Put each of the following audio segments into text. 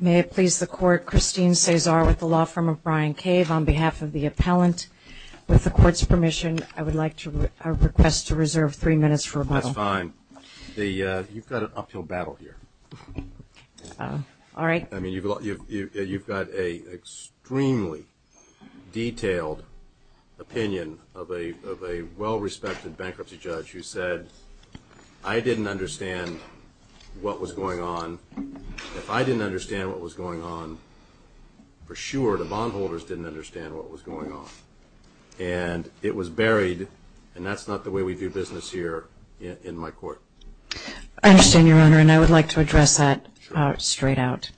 May it please the Court, Christine Cesar with the law firm of Bryan Cave on behalf of the appellant. With the Court's permission, I would like to request to reserve three minutes for rebuttal. That's fine. You've got an uphill battle here. All right. I mean, you've got an extremely detailed opinion of a well-respected bankruptcy judge who said, I didn't understand what was going on. If I didn't understand what was going on, for sure the bondholders didn't understand what was going on. And it was buried, and that's not the way we do business here in my court. I understand, Your Honor, and I would like to address that straight out.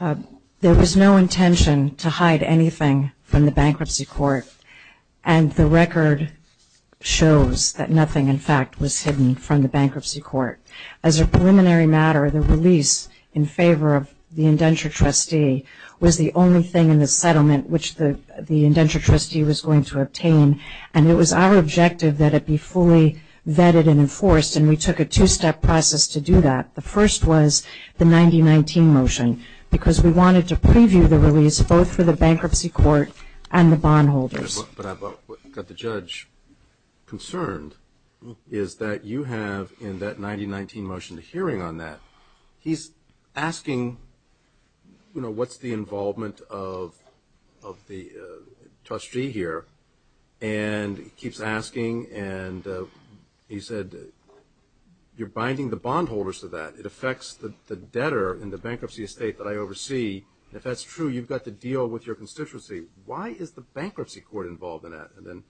There was no intention to hide anything from the bankruptcy court, and the record shows that nothing, in fact, was hidden from the bankruptcy court. As a preliminary matter, the release in favor of the indenture trustee was the only thing in the settlement which the indenture trustee was going to obtain, and it was our objective that it be fully vetted and enforced, and we took a two-step process to do that. The first was the 9019 motion because we wanted to preview the release both for the bankruptcy court and the bondholders. But I've got the judge concerned is that you have in that 9019 motion a hearing on that. He's asking, you know, what's the involvement of the trustee here? And he keeps asking, and he said, you're binding the bondholders to that. It affects the debtor in the bankruptcy estate that I oversee. If that's true, you've got to deal with your constituency. Why is the bankruptcy court involved in that? And then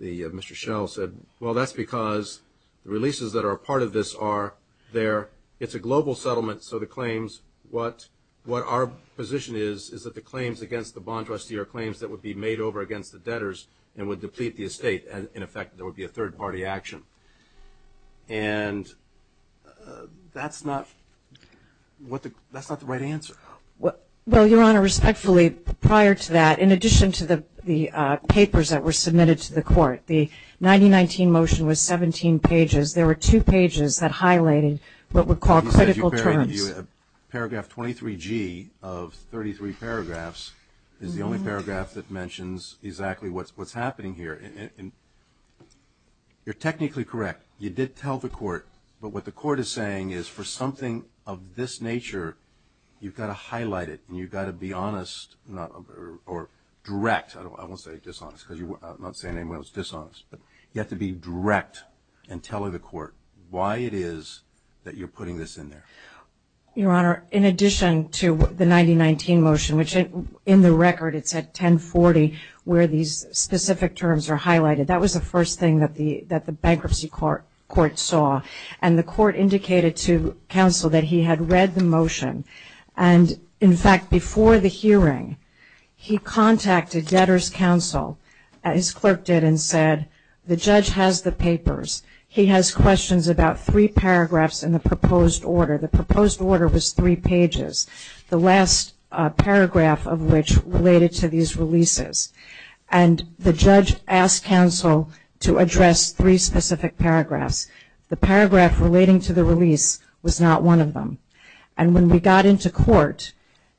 Mr. Schell said, well, that's because the releases that are a part of this are there. It's a global settlement, so the claims, what our position is, is that the claims against the bond trustee are claims that would be made over against the debtors and would deplete the estate, and, in effect, there would be a third-party action. And that's not the right answer. Well, Your Honor, respectfully, prior to that, in addition to the papers that were submitted to the court, the 9019 motion was 17 pages. There were two pages that highlighted what were called critical terms. Paragraph 23G of 33 paragraphs is the only paragraph that mentions exactly what's happening here. You're technically correct. You did tell the court, but what the court is saying is for something of this nature, you've got to highlight it and you've got to be honest or direct. I won't say dishonest because I'm not saying anyone is dishonest, but you have to be direct in telling the court why it is that you're putting this in there. Your Honor, in addition to the 9019 motion, which in the record it's at 1040 where these specific terms are highlighted, that was the first thing that the bankruptcy court saw. And the court indicated to counsel that he had read the motion. And, in fact, before the hearing, he contacted debtors' counsel, his clerk did, and said, the judge has the papers. He has questions about three paragraphs in the proposed order. The proposed order was three pages, the last paragraph of which related to these releases. And the judge asked counsel to address three specific paragraphs. The paragraph relating to the release was not one of them. And when we got into court,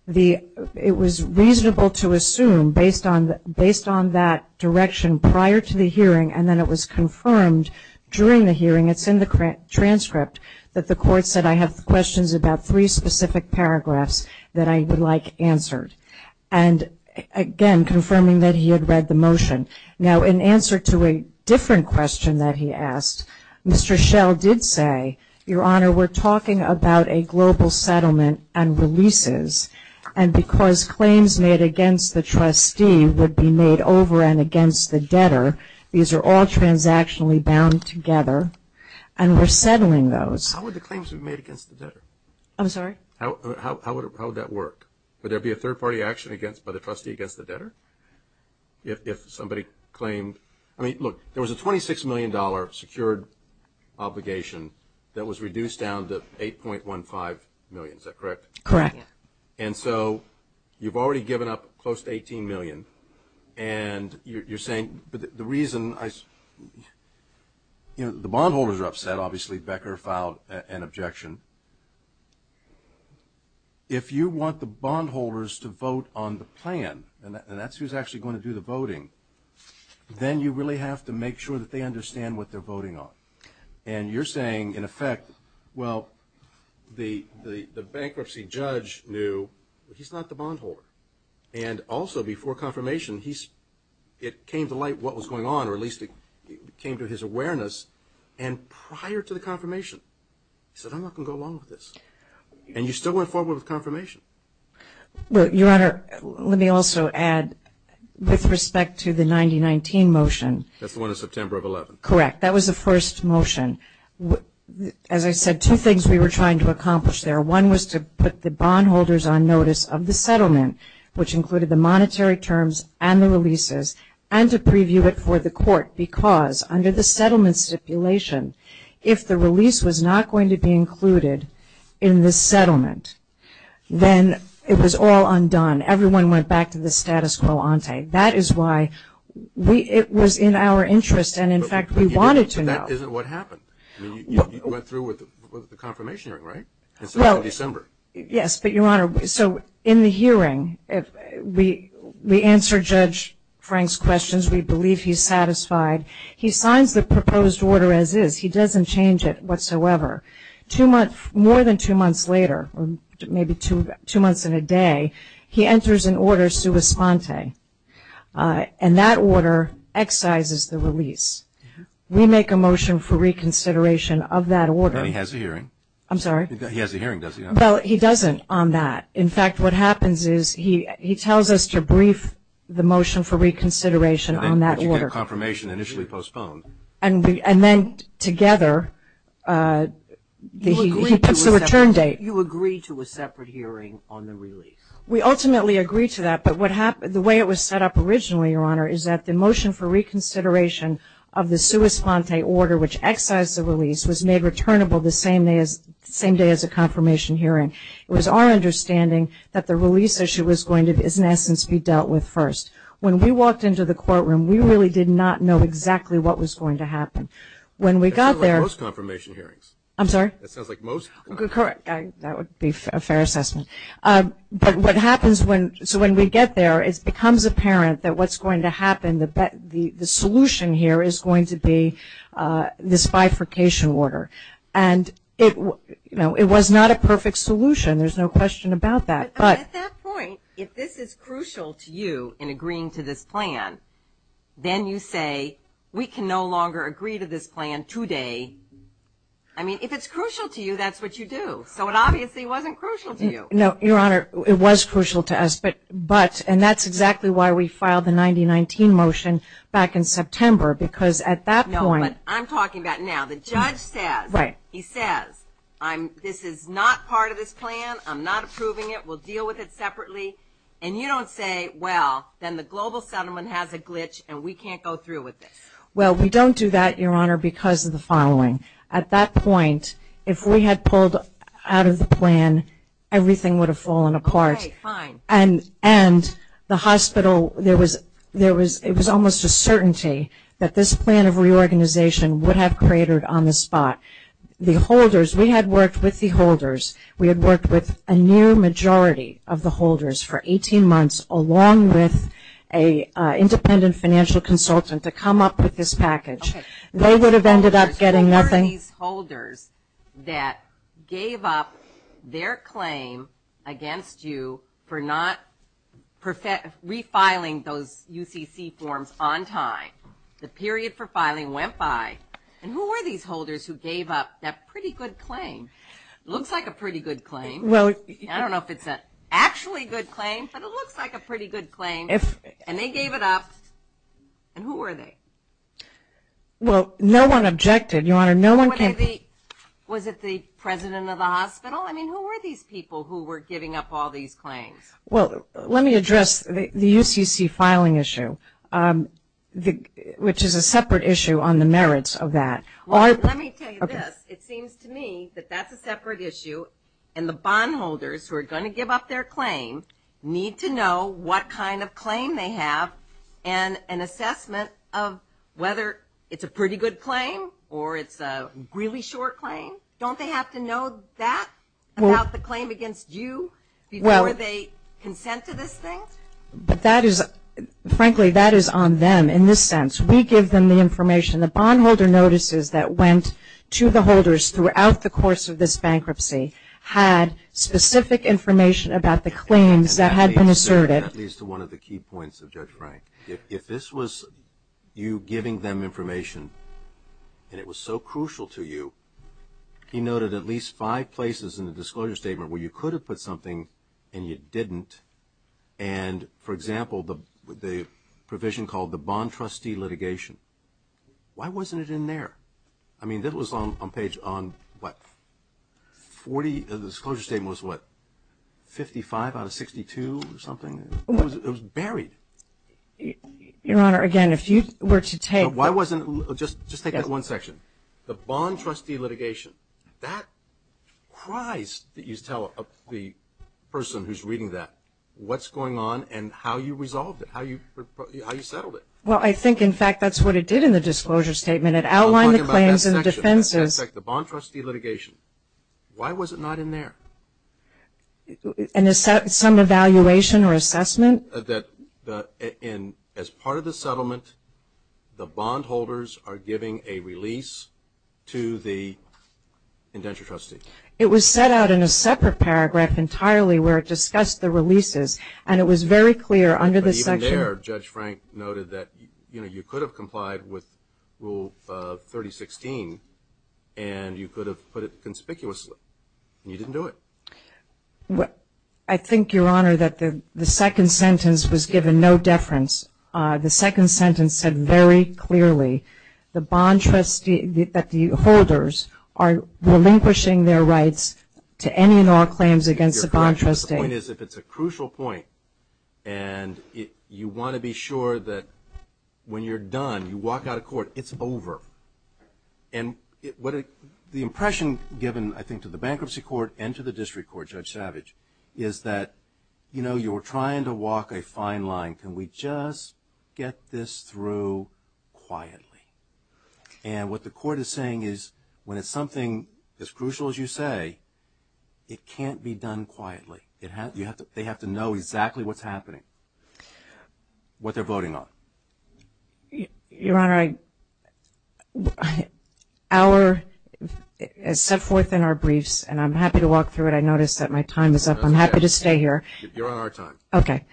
it was reasonable to assume based on that direction prior to the hearing and then it was confirmed during the hearing, it's in the transcript, that the court said I have questions about three specific paragraphs that I would like answered. And, again, confirming that he had read the motion. Now, in answer to a different question that he asked, Mr. Schell did say, Your Honor, we're talking about a global settlement and releases. And because claims made against the trustee would be made over and against the debtor, these are all transactionally bound together, and we're settling those. How would the claims be made against the debtor? I'm sorry? How would that work? Would there be a third-party action by the trustee against the debtor? If somebody claimed – I mean, look, there was a $26 million secured obligation that was reduced down to $8.15 million. Is that correct? Correct. And so you've already given up close to $18 million, and you're saying the reason – the bondholders are upset, obviously. Becker filed an objection. If you want the bondholders to vote on the plan, and that's who's actually going to do the voting, then you really have to make sure that they understand what they're voting on. And you're saying, in effect, well, the bankruptcy judge knew, but he's not the bondholder. And also, before confirmation, it came to light what was going on, or at least it came to his awareness. And prior to the confirmation, he said, I'm not going to go along with this. And you still went forward with confirmation. Your Honor, let me also add, with respect to the 9019 motion. That's the one in September of 2011. Correct. That was the first motion. As I said, two things we were trying to accomplish there. One was to put the bondholders on notice of the settlement, which included the monetary terms and the releases, and to preview it for the court, because under the settlement stipulation, if the release was not going to be included in the settlement, then it was all undone. Everyone went back to the status quo ante. That is why it was in our interest, and, in fact, we wanted to know. But that isn't what happened. I mean, you went through with the confirmation hearing, right? Yes, but, Your Honor, so in the hearing, we answered Judge Frank's questions. We believe he's satisfied. He signs the proposed order as is. He doesn't change it whatsoever. More than two months later, or maybe two months and a day, he enters an order sua sponte, and that order excises the release. We make a motion for reconsideration of that order. But he has a hearing. I'm sorry? He has a hearing, doesn't he? Well, he doesn't on that. In fact, what happens is he tells us to brief the motion for reconsideration on that order. But you get confirmation initially postponed. And then, together, he puts the return date. You agree to a separate hearing on the release. We ultimately agree to that. But the way it was set up originally, Your Honor, is that the motion for reconsideration of the sua sponte order, which excised the release, was made returnable the same day as the confirmation hearing. It was our understanding that the release issue was going to, in essence, be dealt with first. When we walked into the courtroom, we really did not know exactly what was going to happen. When we got there. That sounds like most confirmation hearings. I'm sorry? That sounds like most. Correct. That would be a fair assessment. But what happens when we get there, it becomes apparent that what's going to happen, the solution here is going to be this bifurcation order. And it was not a perfect solution. There's no question about that. But at that point, if this is crucial to you in agreeing to this plan, then you say we can no longer agree to this plan today. I mean, if it's crucial to you, that's what you do. So it obviously wasn't crucial to you. No, Your Honor, it was crucial to us. And that's exactly why we filed the 9019 motion back in September. Because at that point. No, but I'm talking about now. The judge says, he says, this is not part of this plan. I'm not approving it. We'll deal with it separately. And you don't say, well, then the global settlement has a glitch and we can't go through with it. Well, we don't do that, Your Honor, because of the following. At that point, if we had pulled out of the plan, everything would have fallen apart. And the hospital, there was almost a certainty that this plan of reorganization would have cratered on the spot. The holders, we had worked with the holders. We had worked with a near majority of the holders for 18 months, along with an independent financial consultant to come up with this package. They would have ended up getting nothing. There were these holders that gave up their claim against you for not refiling those UCC forms on time. The period for filing went by. And who were these holders who gave up that pretty good claim? Looks like a pretty good claim. I don't know if it's an actually good claim, but it looks like a pretty good claim. And they gave it up. And who were they? Well, no one objected, Your Honor. Was it the president of the hospital? I mean, who were these people who were giving up all these claims? Well, let me address the UCC filing issue. Which is a separate issue on the merits of that. Let me tell you this. It seems to me that that's a separate issue, and the bondholders who are going to give up their claim need to know what kind of claim they have and an assessment of whether it's a pretty good claim or it's a really short claim. Don't they have to know that about the claim against you before they consent to this thing? But that is, frankly, that is on them in this sense. We give them the information. The bondholder notices that went to the holders throughout the course of this bankruptcy had specific information about the claims that had been asserted. And that leads to one of the key points of Judge Frank. If this was you giving them information and it was so crucial to you, he noted at least five places in the disclosure statement where you could have put something and you didn't. And, for example, the provision called the bond trustee litigation. Why wasn't it in there? I mean, that was on page, on what, 40? The disclosure statement was what, 55 out of 62 or something? It was buried. Your Honor, again, if you were to take. Just take that one section. The bond trustee litigation. That, Christ, that you tell the person who's reading that what's going on and how you resolved it, how you settled it. Well, I think, in fact, that's what it did in the disclosure statement. It outlined the claims and defenses. I'm talking about that section, the bond trustee litigation. Why was it not in there? Some evaluation or assessment. As part of the settlement, the bondholders are giving a release to the indenture trustee. It was set out in a separate paragraph entirely where it discussed the releases, and it was very clear under this section. But even there, Judge Frank noted that, you know, you could have complied with Rule 3016 and you could have put it conspicuously, and you didn't do it. I think, Your Honor, that the second sentence was given no deference. The second sentence said very clearly that the holders are relinquishing their rights to any and all claims against the bond trustee. The point is, if it's a crucial point and you want to be sure that when you're done, you walk out of court, it's over. And the impression given, I think, to the bankruptcy court and to the district court, Judge Savage, is that, you know, you were trying to walk a fine line. Can we just get this through quietly? And what the court is saying is when it's something as crucial as you say, it can't be done quietly. They have to know exactly what's happening, what they're voting on. Your Honor, our set forth in our briefs, and I'm happy to walk through it. I notice that my time is up. I'm happy to stay here. Your Honor, our time. Okay.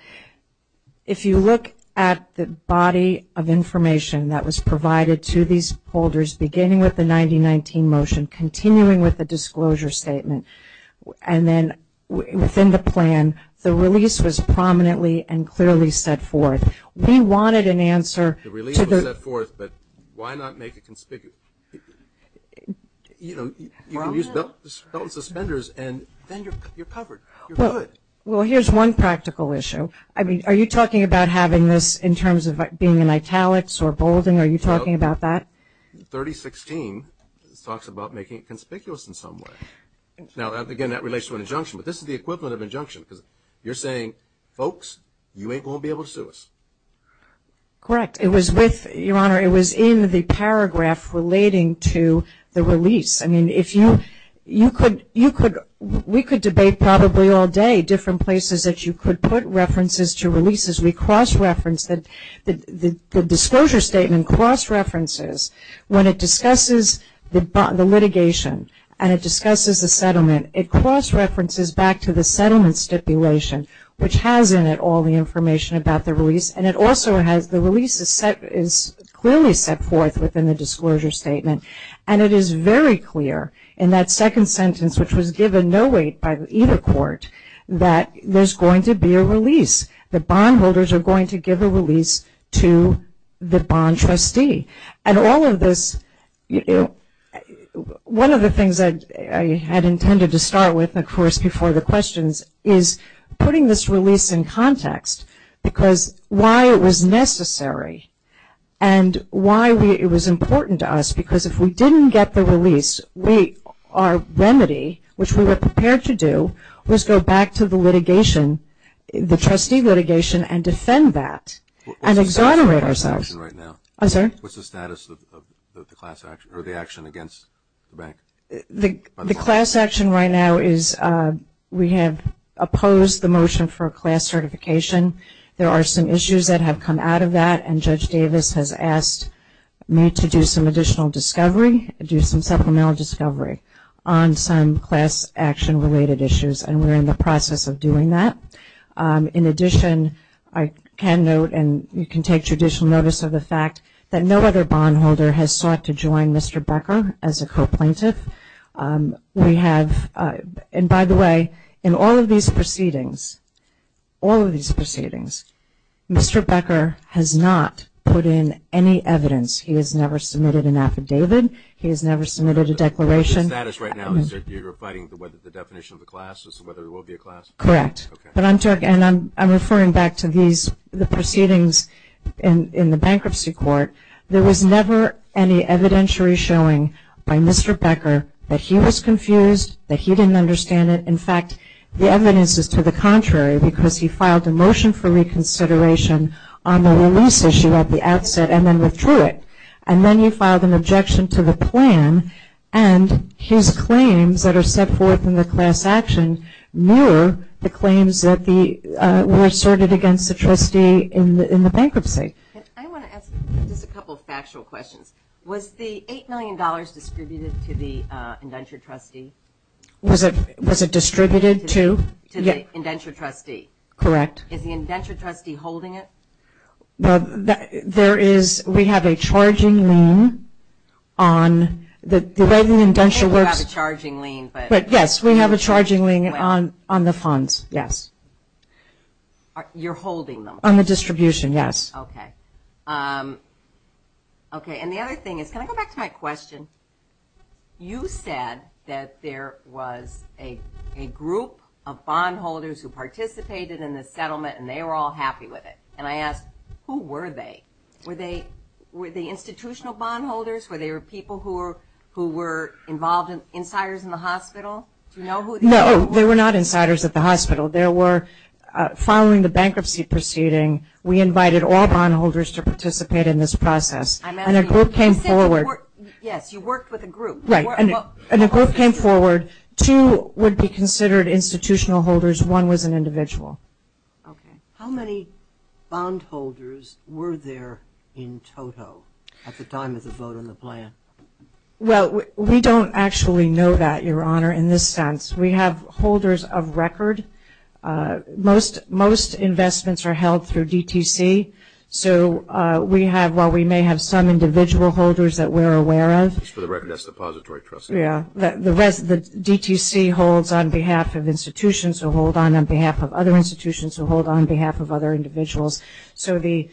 If you look at the body of information that was provided to these holders, beginning with the 9019 motion, continuing with the disclosure statement, and then within the plan, the release was prominently and clearly set forth. We wanted an answer. The release was set forth, but why not make it conspicuous? You know, you can use belt and suspenders and then you're covered. You're good. Well, here's one practical issue. I mean, are you talking about having this in terms of being in italics or bolding? Are you talking about that? 3016 talks about making it conspicuous in some way. Now, again, that relates to an injunction, but this is the equivalent of injunction because you're saying, folks, you ain't going to be able to sue us. Correct. Your Honor, it was in the paragraph relating to the release. I mean, we could debate probably all day different places that you could put references to releases. The disclosure statement cross-references. When it discusses the litigation and it discusses the settlement, it cross-references back to the settlement stipulation, which has in it all the information about the release, and it also has the release is clearly set forth within the disclosure statement. And it is very clear in that second sentence, which was given no weight by either court, that there's going to be a release. The bondholders are going to give a release to the bond trustee. And all of this, one of the things I had intended to start with, of course, before the questions is putting this release in context because why it was necessary and why it was important to us because if we didn't get the release, our remedy, which we were prepared to do, was go back to the litigation, the trustee litigation, and defend that and exonerate ourselves. What's the status of the class action or the action against the bank? The class action right now is we have opposed the motion for a class certification. There are some issues that have come out of that, and Judge Davis has asked me to do some additional discovery, do some supplemental discovery on some class action-related issues, and we're in the process of doing that. In addition, I can note, and you can take judicial notice of the fact, that no other bondholder has sought to join Mr. Becker as a co-plaintiff. We have, and by the way, in all of these proceedings, all of these proceedings, Mr. Becker has not put in any evidence. He has never submitted an affidavit. He has never submitted a declaration. The status right now is you're refining the definition of the class as to whether there will be a class? Correct. But I'm referring back to the proceedings in the bankruptcy court. There was never any evidentiary showing by Mr. Becker that he was confused, that he didn't understand it. In fact, the evidence is to the contrary, because he filed a motion for reconsideration on the release issue at the outset and then withdrew it. And then he filed an objection to the plan, and his claims that are set forth in the class action mirror the claims that were asserted against the trustee in the bankruptcy. I want to ask just a couple of factual questions. Was the $8 million distributed to the indenture trustee? Was it distributed to? To the indenture trustee. Correct. Is the indenture trustee holding it? There is, we have a charging lien on the way the indenture works. I don't think we have a charging lien. Yes, we have a charging lien on the funds, yes. You're holding them? On the distribution, yes. Okay. Okay, and the other thing is, can I go back to my question? You said that there was a group of bondholders who participated in the settlement and they were all happy with it. And I asked, who were they? Were they institutional bondholders? Were they people who were involved, insiders in the hospital? Do you know who they were? No, they were not insiders at the hospital. They were following the bankruptcy proceeding, we invited all bondholders to participate in this process. And a group came forward. Yes, you worked with a group. Right, and a group came forward. Two would be considered institutional holders, one was an individual. Okay. How many bondholders were there in total at the time of the vote on the plan? Well, we don't actually know that, Your Honor, in this sense. We have holders of record. Most investments are held through DTC. So we have, while we may have some individual holders that we're aware of. It's for the Reckoness Depository Trust. Yeah. The DTC holds on behalf of institutions who hold on, on behalf of other institutions who hold on behalf of other individuals. So the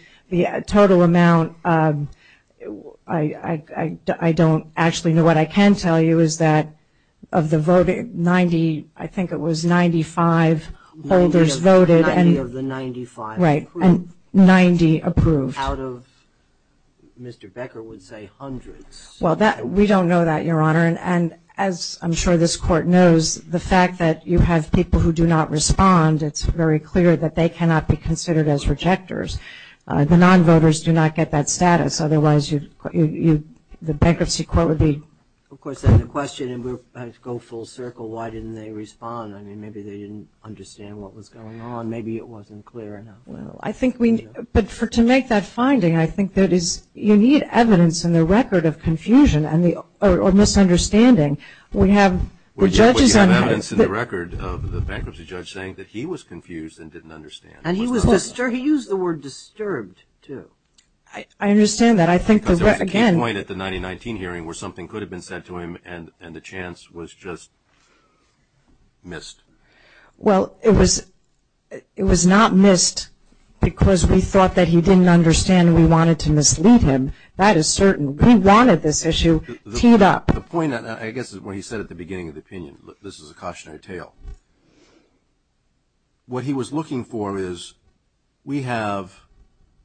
total amount, I don't actually know. What I can tell you is that of the voting, 90, I think it was 95 holders voted. Ninety of the 95 approved. Right, and 90 approved. Out of, Mr. Becker would say hundreds. Well, we don't know that, Your Honor. And as I'm sure this Court knows, the fact that you have people who do not respond, it's very clear that they cannot be considered as rejectors. The non-voters do not get that status. Otherwise, the bankruptcy court would be. Of course, the question, and we'll go full circle, why didn't they respond? I mean, maybe they didn't understand what was going on. Maybe it wasn't clear enough. Well, I think we need, but to make that finding, I think that you need evidence in the record of confusion or misunderstanding. We have the judges on that. But you have evidence in the record of the bankruptcy judge saying that he was confused and didn't understand. And he was disturbed. He used the word disturbed, too. I understand that. I think that, again. Because there was a key point at the 1990 hearing where something could have been said to him and the chance was just missed. Well, it was not missed because we thought that he didn't understand and we wanted to mislead him. That is certain. We wanted this issue teed up. The point, I guess, is what he said at the beginning of the opinion. This is a cautionary tale. What he was looking for is we have,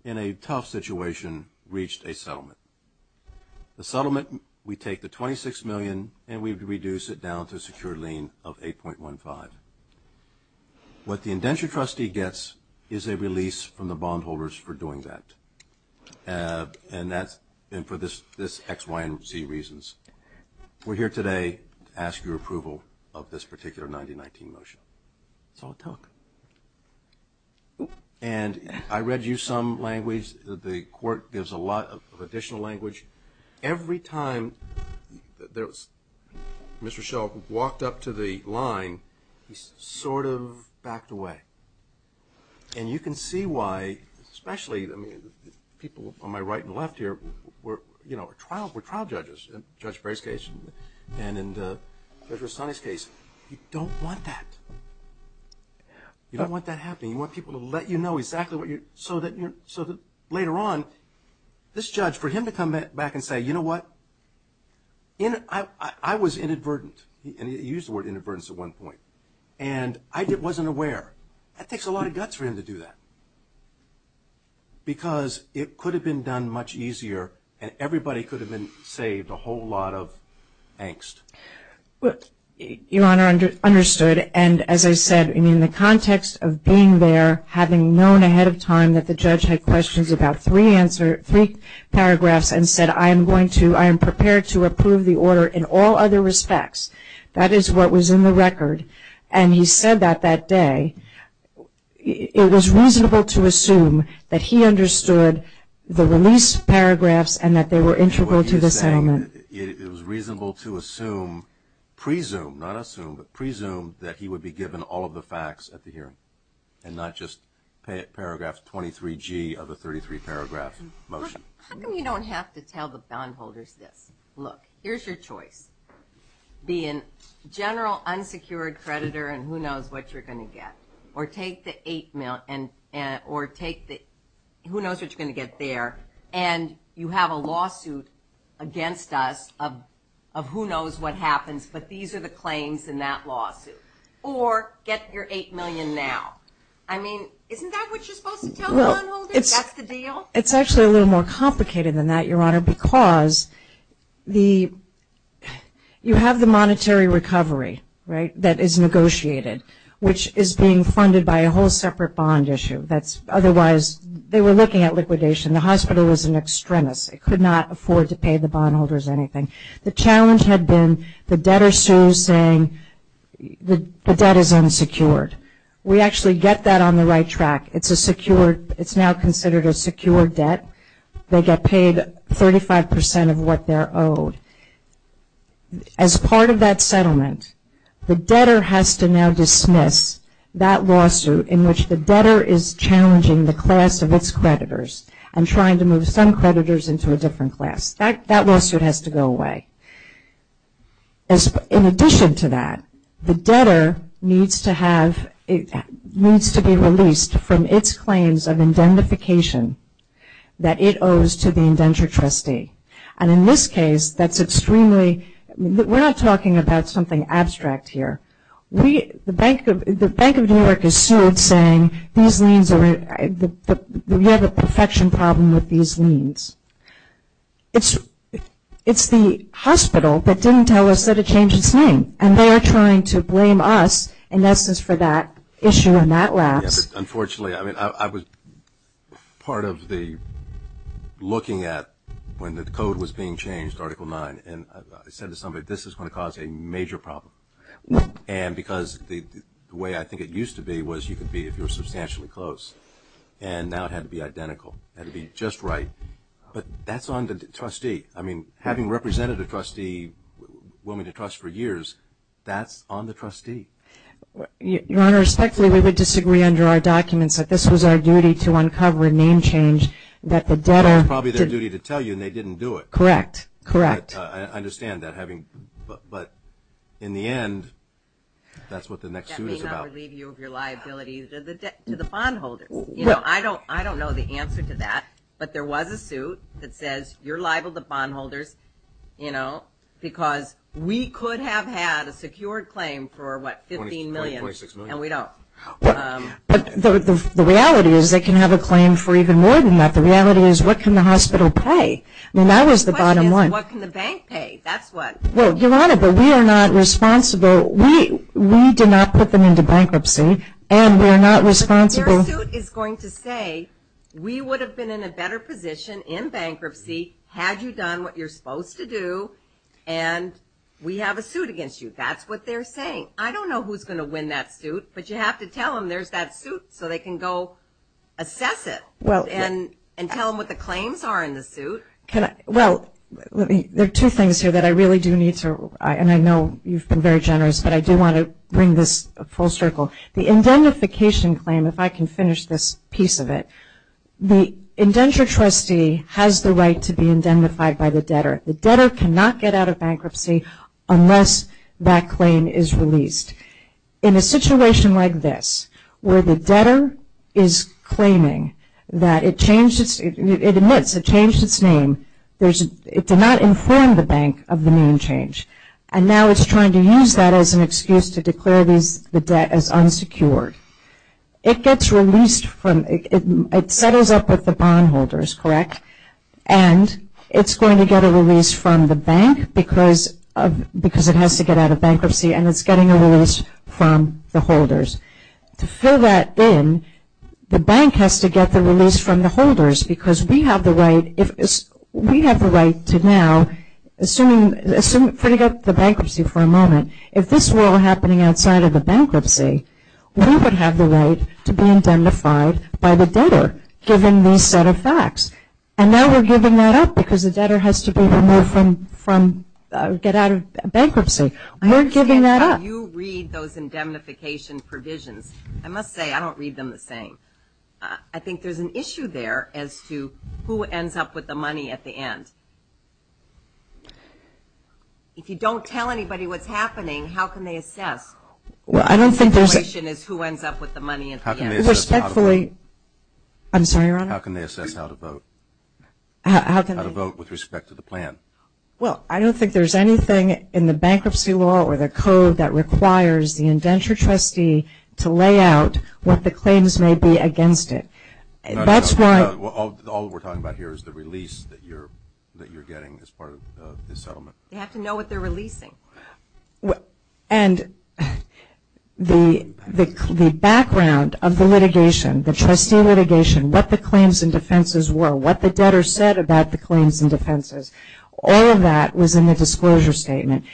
in a tough situation, reached a settlement. The settlement, we take the $26 million and we reduce it down to a secure lien of $8.15. What the indentured trustee gets is a release from the bondholders for doing that. And that's been for this X, Y, and Z reasons. We're here today to ask your approval of this particular 1919 motion. It's all talk. And I read you some language. The Court gives a lot of additional language. Every time Mr. Schell walked up to the line, he sort of backed away. And you can see why, especially people on my right and left here were trial judges in Judge Berry's case and in Judge Rastani's case. You don't want that. You don't want that happening. You want people to let you know exactly what you're so that later on this judge, for him to come back and say, you know what, I was inadvertent. He used the word inadvertence at one point. And I wasn't aware. That takes a lot of guts for him to do that because it could have been done much easier and everybody could have been saved a whole lot of angst. Your Honor, understood. And as I said, in the context of being there, having known ahead of time that the judge had questions about three paragraphs and said, I am going to, I am prepared to approve the order in all other respects. That is what was in the record. And he said that that day. It was reasonable to assume that he understood the release paragraphs and that they were integral to the settlement. It was reasonable to assume, presume, not assume, but presume that he would be given all of the facts at the hearing and not just paragraphs 23G of the 33-paragraph motion. How come you don't have to tell the bondholders this? Look, here's your choice. Be a general unsecured creditor and who knows what you're going to get. Or take the eight million, or take the, who knows what you're going to get there. And you have a lawsuit against us of who knows what happens, but these are the claims in that lawsuit. Or get your eight million now. I mean, isn't that what you're supposed to tell the bondholders? That's the deal? It's actually a little more complicated than that, Your Honor, because the, you have the monetary recovery, right, that is negotiated, which is being funded by a whole separate bond issue. That's otherwise, they were looking at liquidation. The hospital was an extremist. It could not afford to pay the bondholders anything. The challenge had been the debtor sues saying the debt is unsecured. We actually get that on the right track. It's a secure, it's now considered a secure debt. They get paid 35% of what they're owed. As part of that settlement, the debtor has to now dismiss that lawsuit in which the debtor is challenging the class of its creditors and trying to move some creditors into a different class. That lawsuit has to go away. In addition to that, the debtor needs to have, needs to be released from its claims of indentification that it owes to the indenture trustee. And in this case, that's extremely, we're not talking about something abstract here. The Bank of New York is sued saying these liens are, we have a perfection problem with these liens. It's the hospital that didn't tell us that it changed its name, and they are trying to blame us in essence for that issue and that lapse. Unfortunately, I was part of the looking at when the code was being changed, Article 9, and I said to somebody, this is going to cause a major problem. And because the way I think it used to be was you could be, if you were substantially close, and now it had to be identical. It had to be just right. But that's on the trustee. I mean, having represented a trustee, a woman to trust for years, that's on the trustee. Your Honor, respectfully, we would disagree under our documents that this was our duty to uncover a name change that the debtor did. It was probably their duty to tell you, and they didn't do it. Correct. Correct. I understand that having, but in the end, that's what the next suit is about. That may not relieve you of your liability to the bondholders. You know, I don't know the answer to that, but there was a suit that says you're liable to bondholders, you know, because we could have had a secured claim for, what, 15 million, and we don't. But the reality is they can have a claim for even more than that. The reality is what can the hospital pay? I mean, that was the bottom line. The question is, what can the bank pay? That's what. Well, Your Honor, but we are not responsible. We did not put them into bankruptcy, and we are not responsible. But their suit is going to say we would have been in a better position in bankruptcy had you done what you're supposed to do, and we have a suit against you. That's what they're saying. I don't know who's going to win that suit, but you have to tell them there's that suit so they can go assess it and tell them what the claims are in the suit. Well, there are two things here that I really do need to, and I know you've been very generous, but I do want to bring this full circle. The indentification claim, if I can finish this piece of it, the indenture trustee has the right to be indentified by the debtor. The debtor cannot get out of bankruptcy unless that claim is released. In a situation like this where the debtor is claiming that it changed its name, it did not inform the bank of the name change, and now it's trying to use that as an excuse to declare the debt as unsecured. It gets released from, it settles up with the bondholders, correct? And it's going to get a release from the bank because it has to get out of bankruptcy, and it's getting a release from the holders. To fill that in, the bank has to get the release from the holders because we have the right, we have the right to now, assuming, for to get the bankruptcy for a moment, if this were all happening outside of the bankruptcy, we would have the right to be indentified by the debtor given these set of facts. And now we're giving that up because the debtor has to be removed from, get out of bankruptcy. We're giving that up. I don't understand how you read those indemnification provisions. I must say I don't read them the same. I think there's an issue there as to who ends up with the money at the end. If you don't tell anybody what's happening, how can they assess? Well, I don't think there's a – The situation is who ends up with the money at the end. How can they assess how to vote? I'm sorry, Your Honor? How can they assess how to vote? How can they – How to vote with respect to the plan. Well, I don't think there's anything in the bankruptcy law or the code that requires the indentured trustee to lay out what the claims may be against it. That's why – All we're talking about here is the release that you're getting as part of the settlement. They have to know what they're releasing. And the background of the litigation, the trustee litigation, what the claims and defenses were, what the debtor said about the claims and defenses, all of that was in the disclosure statement.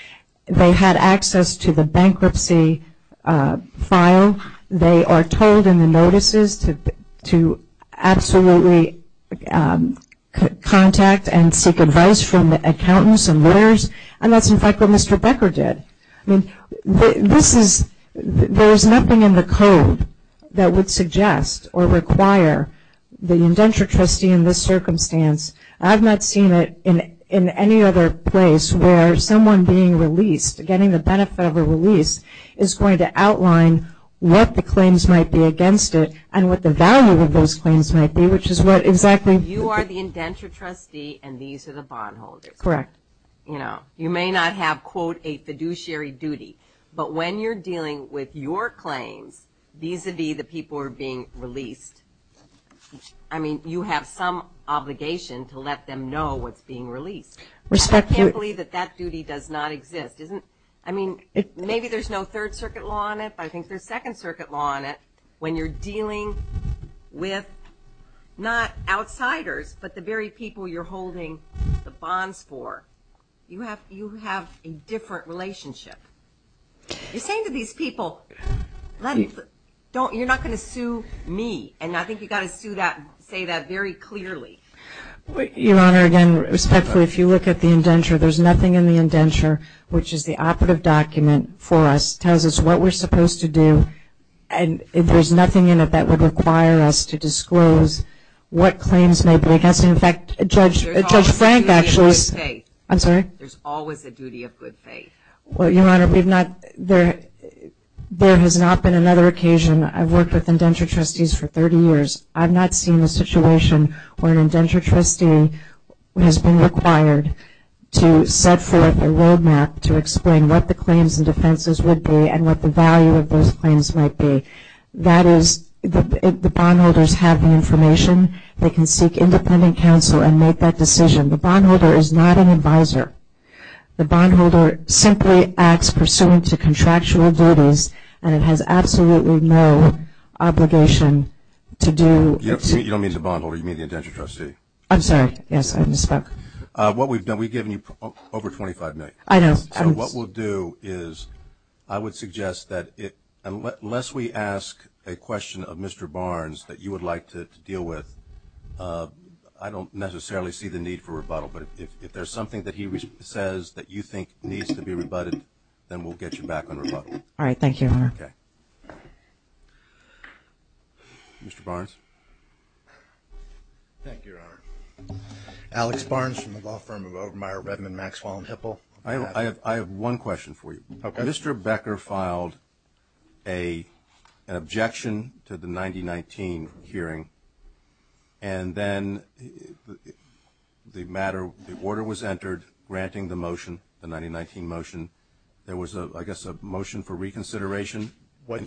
They had access to the bankruptcy file. They are told in the notices to absolutely contact and seek advice from the accountants and lawyers, and that's, in fact, what Mr. Becker did. This is – there's nothing in the code that would suggest or require the indentured trustee in this circumstance. I've not seen it in any other place where someone being released, getting the benefit of a release is going to outline what the claims might be against it and what the value of those claims might be, which is what exactly – You are the indentured trustee, and these are the bondholders. Correct. And, you know, you may not have, quote, a fiduciary duty, but when you're dealing with your claims vis-a-vis the people who are being released, I mean, you have some obligation to let them know what's being released. I can't believe that that duty does not exist. I mean, maybe there's no Third Circuit law on it, but I think there's Second Circuit law on it. When you're dealing with not outsiders, but the very people you're holding the bonds for, you have a different relationship. You're saying to these people, you're not going to sue me, and I think you've got to say that very clearly. Your Honor, again, respectfully, if you look at the indenture, there's nothing in the indenture which is the operative document for us, and there's nothing in it that would require us to disclose what claims may break us. In fact, Judge Frank actually – There's always a duty of good faith. I'm sorry? There's always a duty of good faith. Well, Your Honor, we've not – there has not been another occasion. I've worked with indentured trustees for 30 years. I've not seen a situation where an indentured trustee has been required to set forth a roadmap to explain what the claims and defenses would be and what the value of those claims might be. That is, the bondholders have the information. They can seek independent counsel and make that decision. The bondholder is not an advisor. The bondholder simply acts pursuant to contractual duties, and it has absolutely no obligation to do – You don't mean the bondholder. You mean the indentured trustee. I'm sorry. Yes, I misspoke. What we've done, we've given you over $25 million. I know. So what we'll do is I would suggest that unless we ask a question of Mr. Barnes that you would like to deal with, I don't necessarily see the need for rebuttal. But if there's something that he says that you think needs to be rebutted, then we'll get you back on rebuttal. All right. Thank you, Your Honor. Okay. Mr. Barnes? Thank you, Your Honor. Alex Barnes from the law firm of Obermeyer, Redmond, Maxwell, and Hipple. I have one question for you. Okay. Mr. Becker filed an objection to the 1999 hearing, and then the matter, the order was entered granting the motion, the 1999 motion. There was, I guess, a motion for reconsideration. Is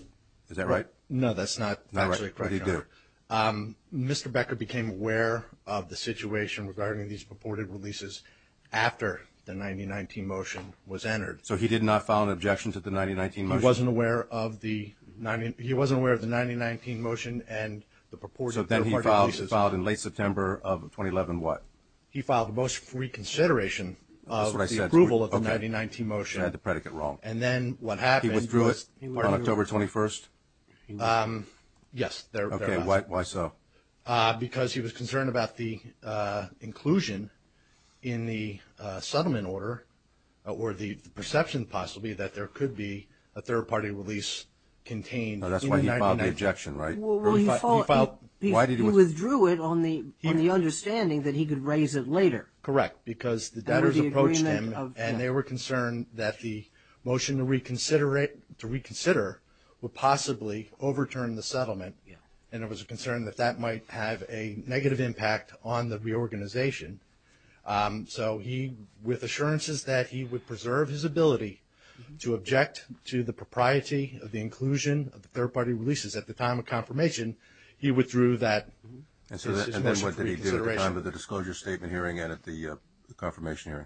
that right? What did he do? Mr. Becker became aware of the situation regarding these purported releases after the 1919 motion was entered. So he did not file an objection to the 1919 motion? He wasn't aware of the 1919 motion and the purported releases. So then he filed in late September of 2011 what? He filed a motion for reconsideration of the approval of the 1919 motion. That's what I said. Okay. I had the predicate wrong. He withdrew it on October 21st? Yes. Okay. Why so? Because he was concerned about the inclusion in the settlement order, or the perception possibly that there could be a third-party release contained. That's why he filed the objection, right? He withdrew it on the understanding that he could raise it later. Correct. Because the debtors approached him and they were concerned that the motion to reconsider would possibly overturn the settlement, and it was a concern that that might have a negative impact on the reorganization. So with assurances that he would preserve his ability to object to the propriety of the inclusion of the third-party releases at the time of confirmation, he withdrew that motion for reconsideration. And then what did he do at the time of the disclosure statement hearing and at the confirmation hearing?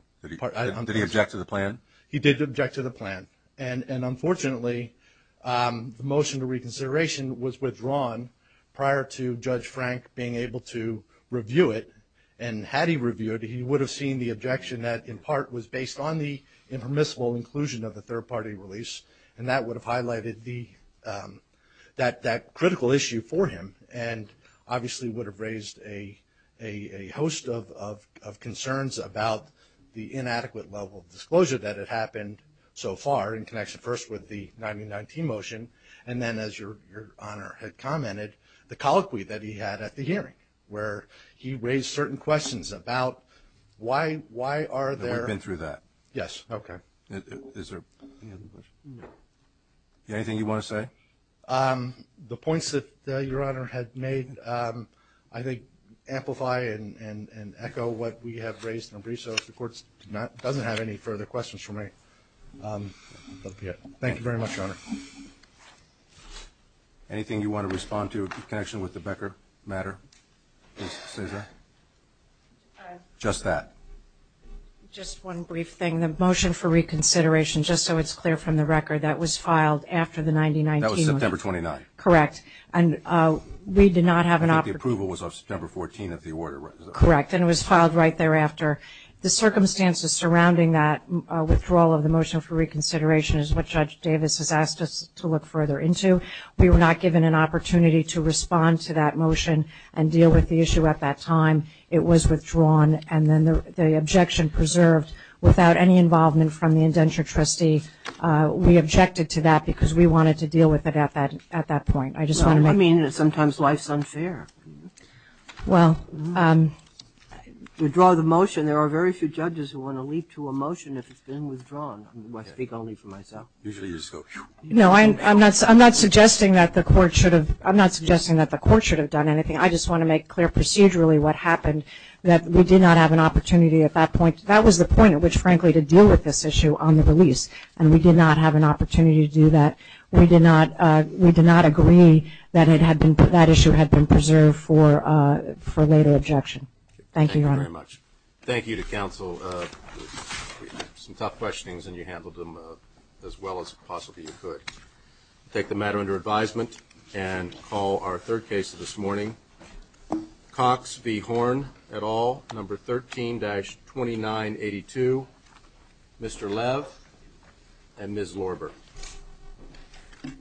Did he object to the plan? He did object to the plan. And, unfortunately, the motion to reconsideration was withdrawn prior to Judge Frank being able to review it. And had he reviewed it, he would have seen the objection that, in part, was based on the impermissible inclusion of the third-party release, and that would have highlighted that critical issue for him and obviously would have raised a host of concerns about the inadequate level of disclosure that had happened so far in connection, first, with the 1919 motion, and then, as Your Honor had commented, the colloquy that he had at the hearing, where he raised certain questions about why are there – We've been through that. Yes. Okay. Is there anything you want to say? The points that Your Honor had made, I think, amplify and echo what we have raised in brief. So if the Court doesn't have any further questions for me, that will be it. Thank you very much, Your Honor. Anything you want to respond to in connection with the Becker matter? Just that. Just one brief thing. The motion for reconsideration, just so it's clear from the record, that was filed after the 1919 – That was September 29th. Correct. And we did not have an – I think the approval was on September 14th of the order, right? Correct. And it was filed right thereafter. The circumstances surrounding that withdrawal of the motion for reconsideration is what Judge Davis has asked us to look further into. We were not given an opportunity to respond to that motion and deal with the issue at that time. It was withdrawn and then the objection preserved without any involvement from the indenture trustee. We objected to that because we wanted to deal with it at that point. I just want to make – Well, I mean, sometimes life's unfair. Well, to draw the motion, there are very few judges who want to leap to a motion if it's been withdrawn. I speak only for myself. Usually you just go phew. No, I'm not suggesting that the Court should have – I'm not suggesting that the Court should have done anything. I just want to make clear procedurally what happened, that we did not have an opportunity at that point. That was the point at which, frankly, to deal with this issue on the release. And we did not have an opportunity to do that. We did not agree that it had been – that issue had been preserved for later objection. Thank you, Your Honor. Thank you very much. Thank you to counsel. Some tough questionings, and you handled them as well as possibly you could. I take the matter under advisement and call our third case of this morning, Cox v. Horn et al., number 13-2982, Mr. Lev and Ms. Lorber.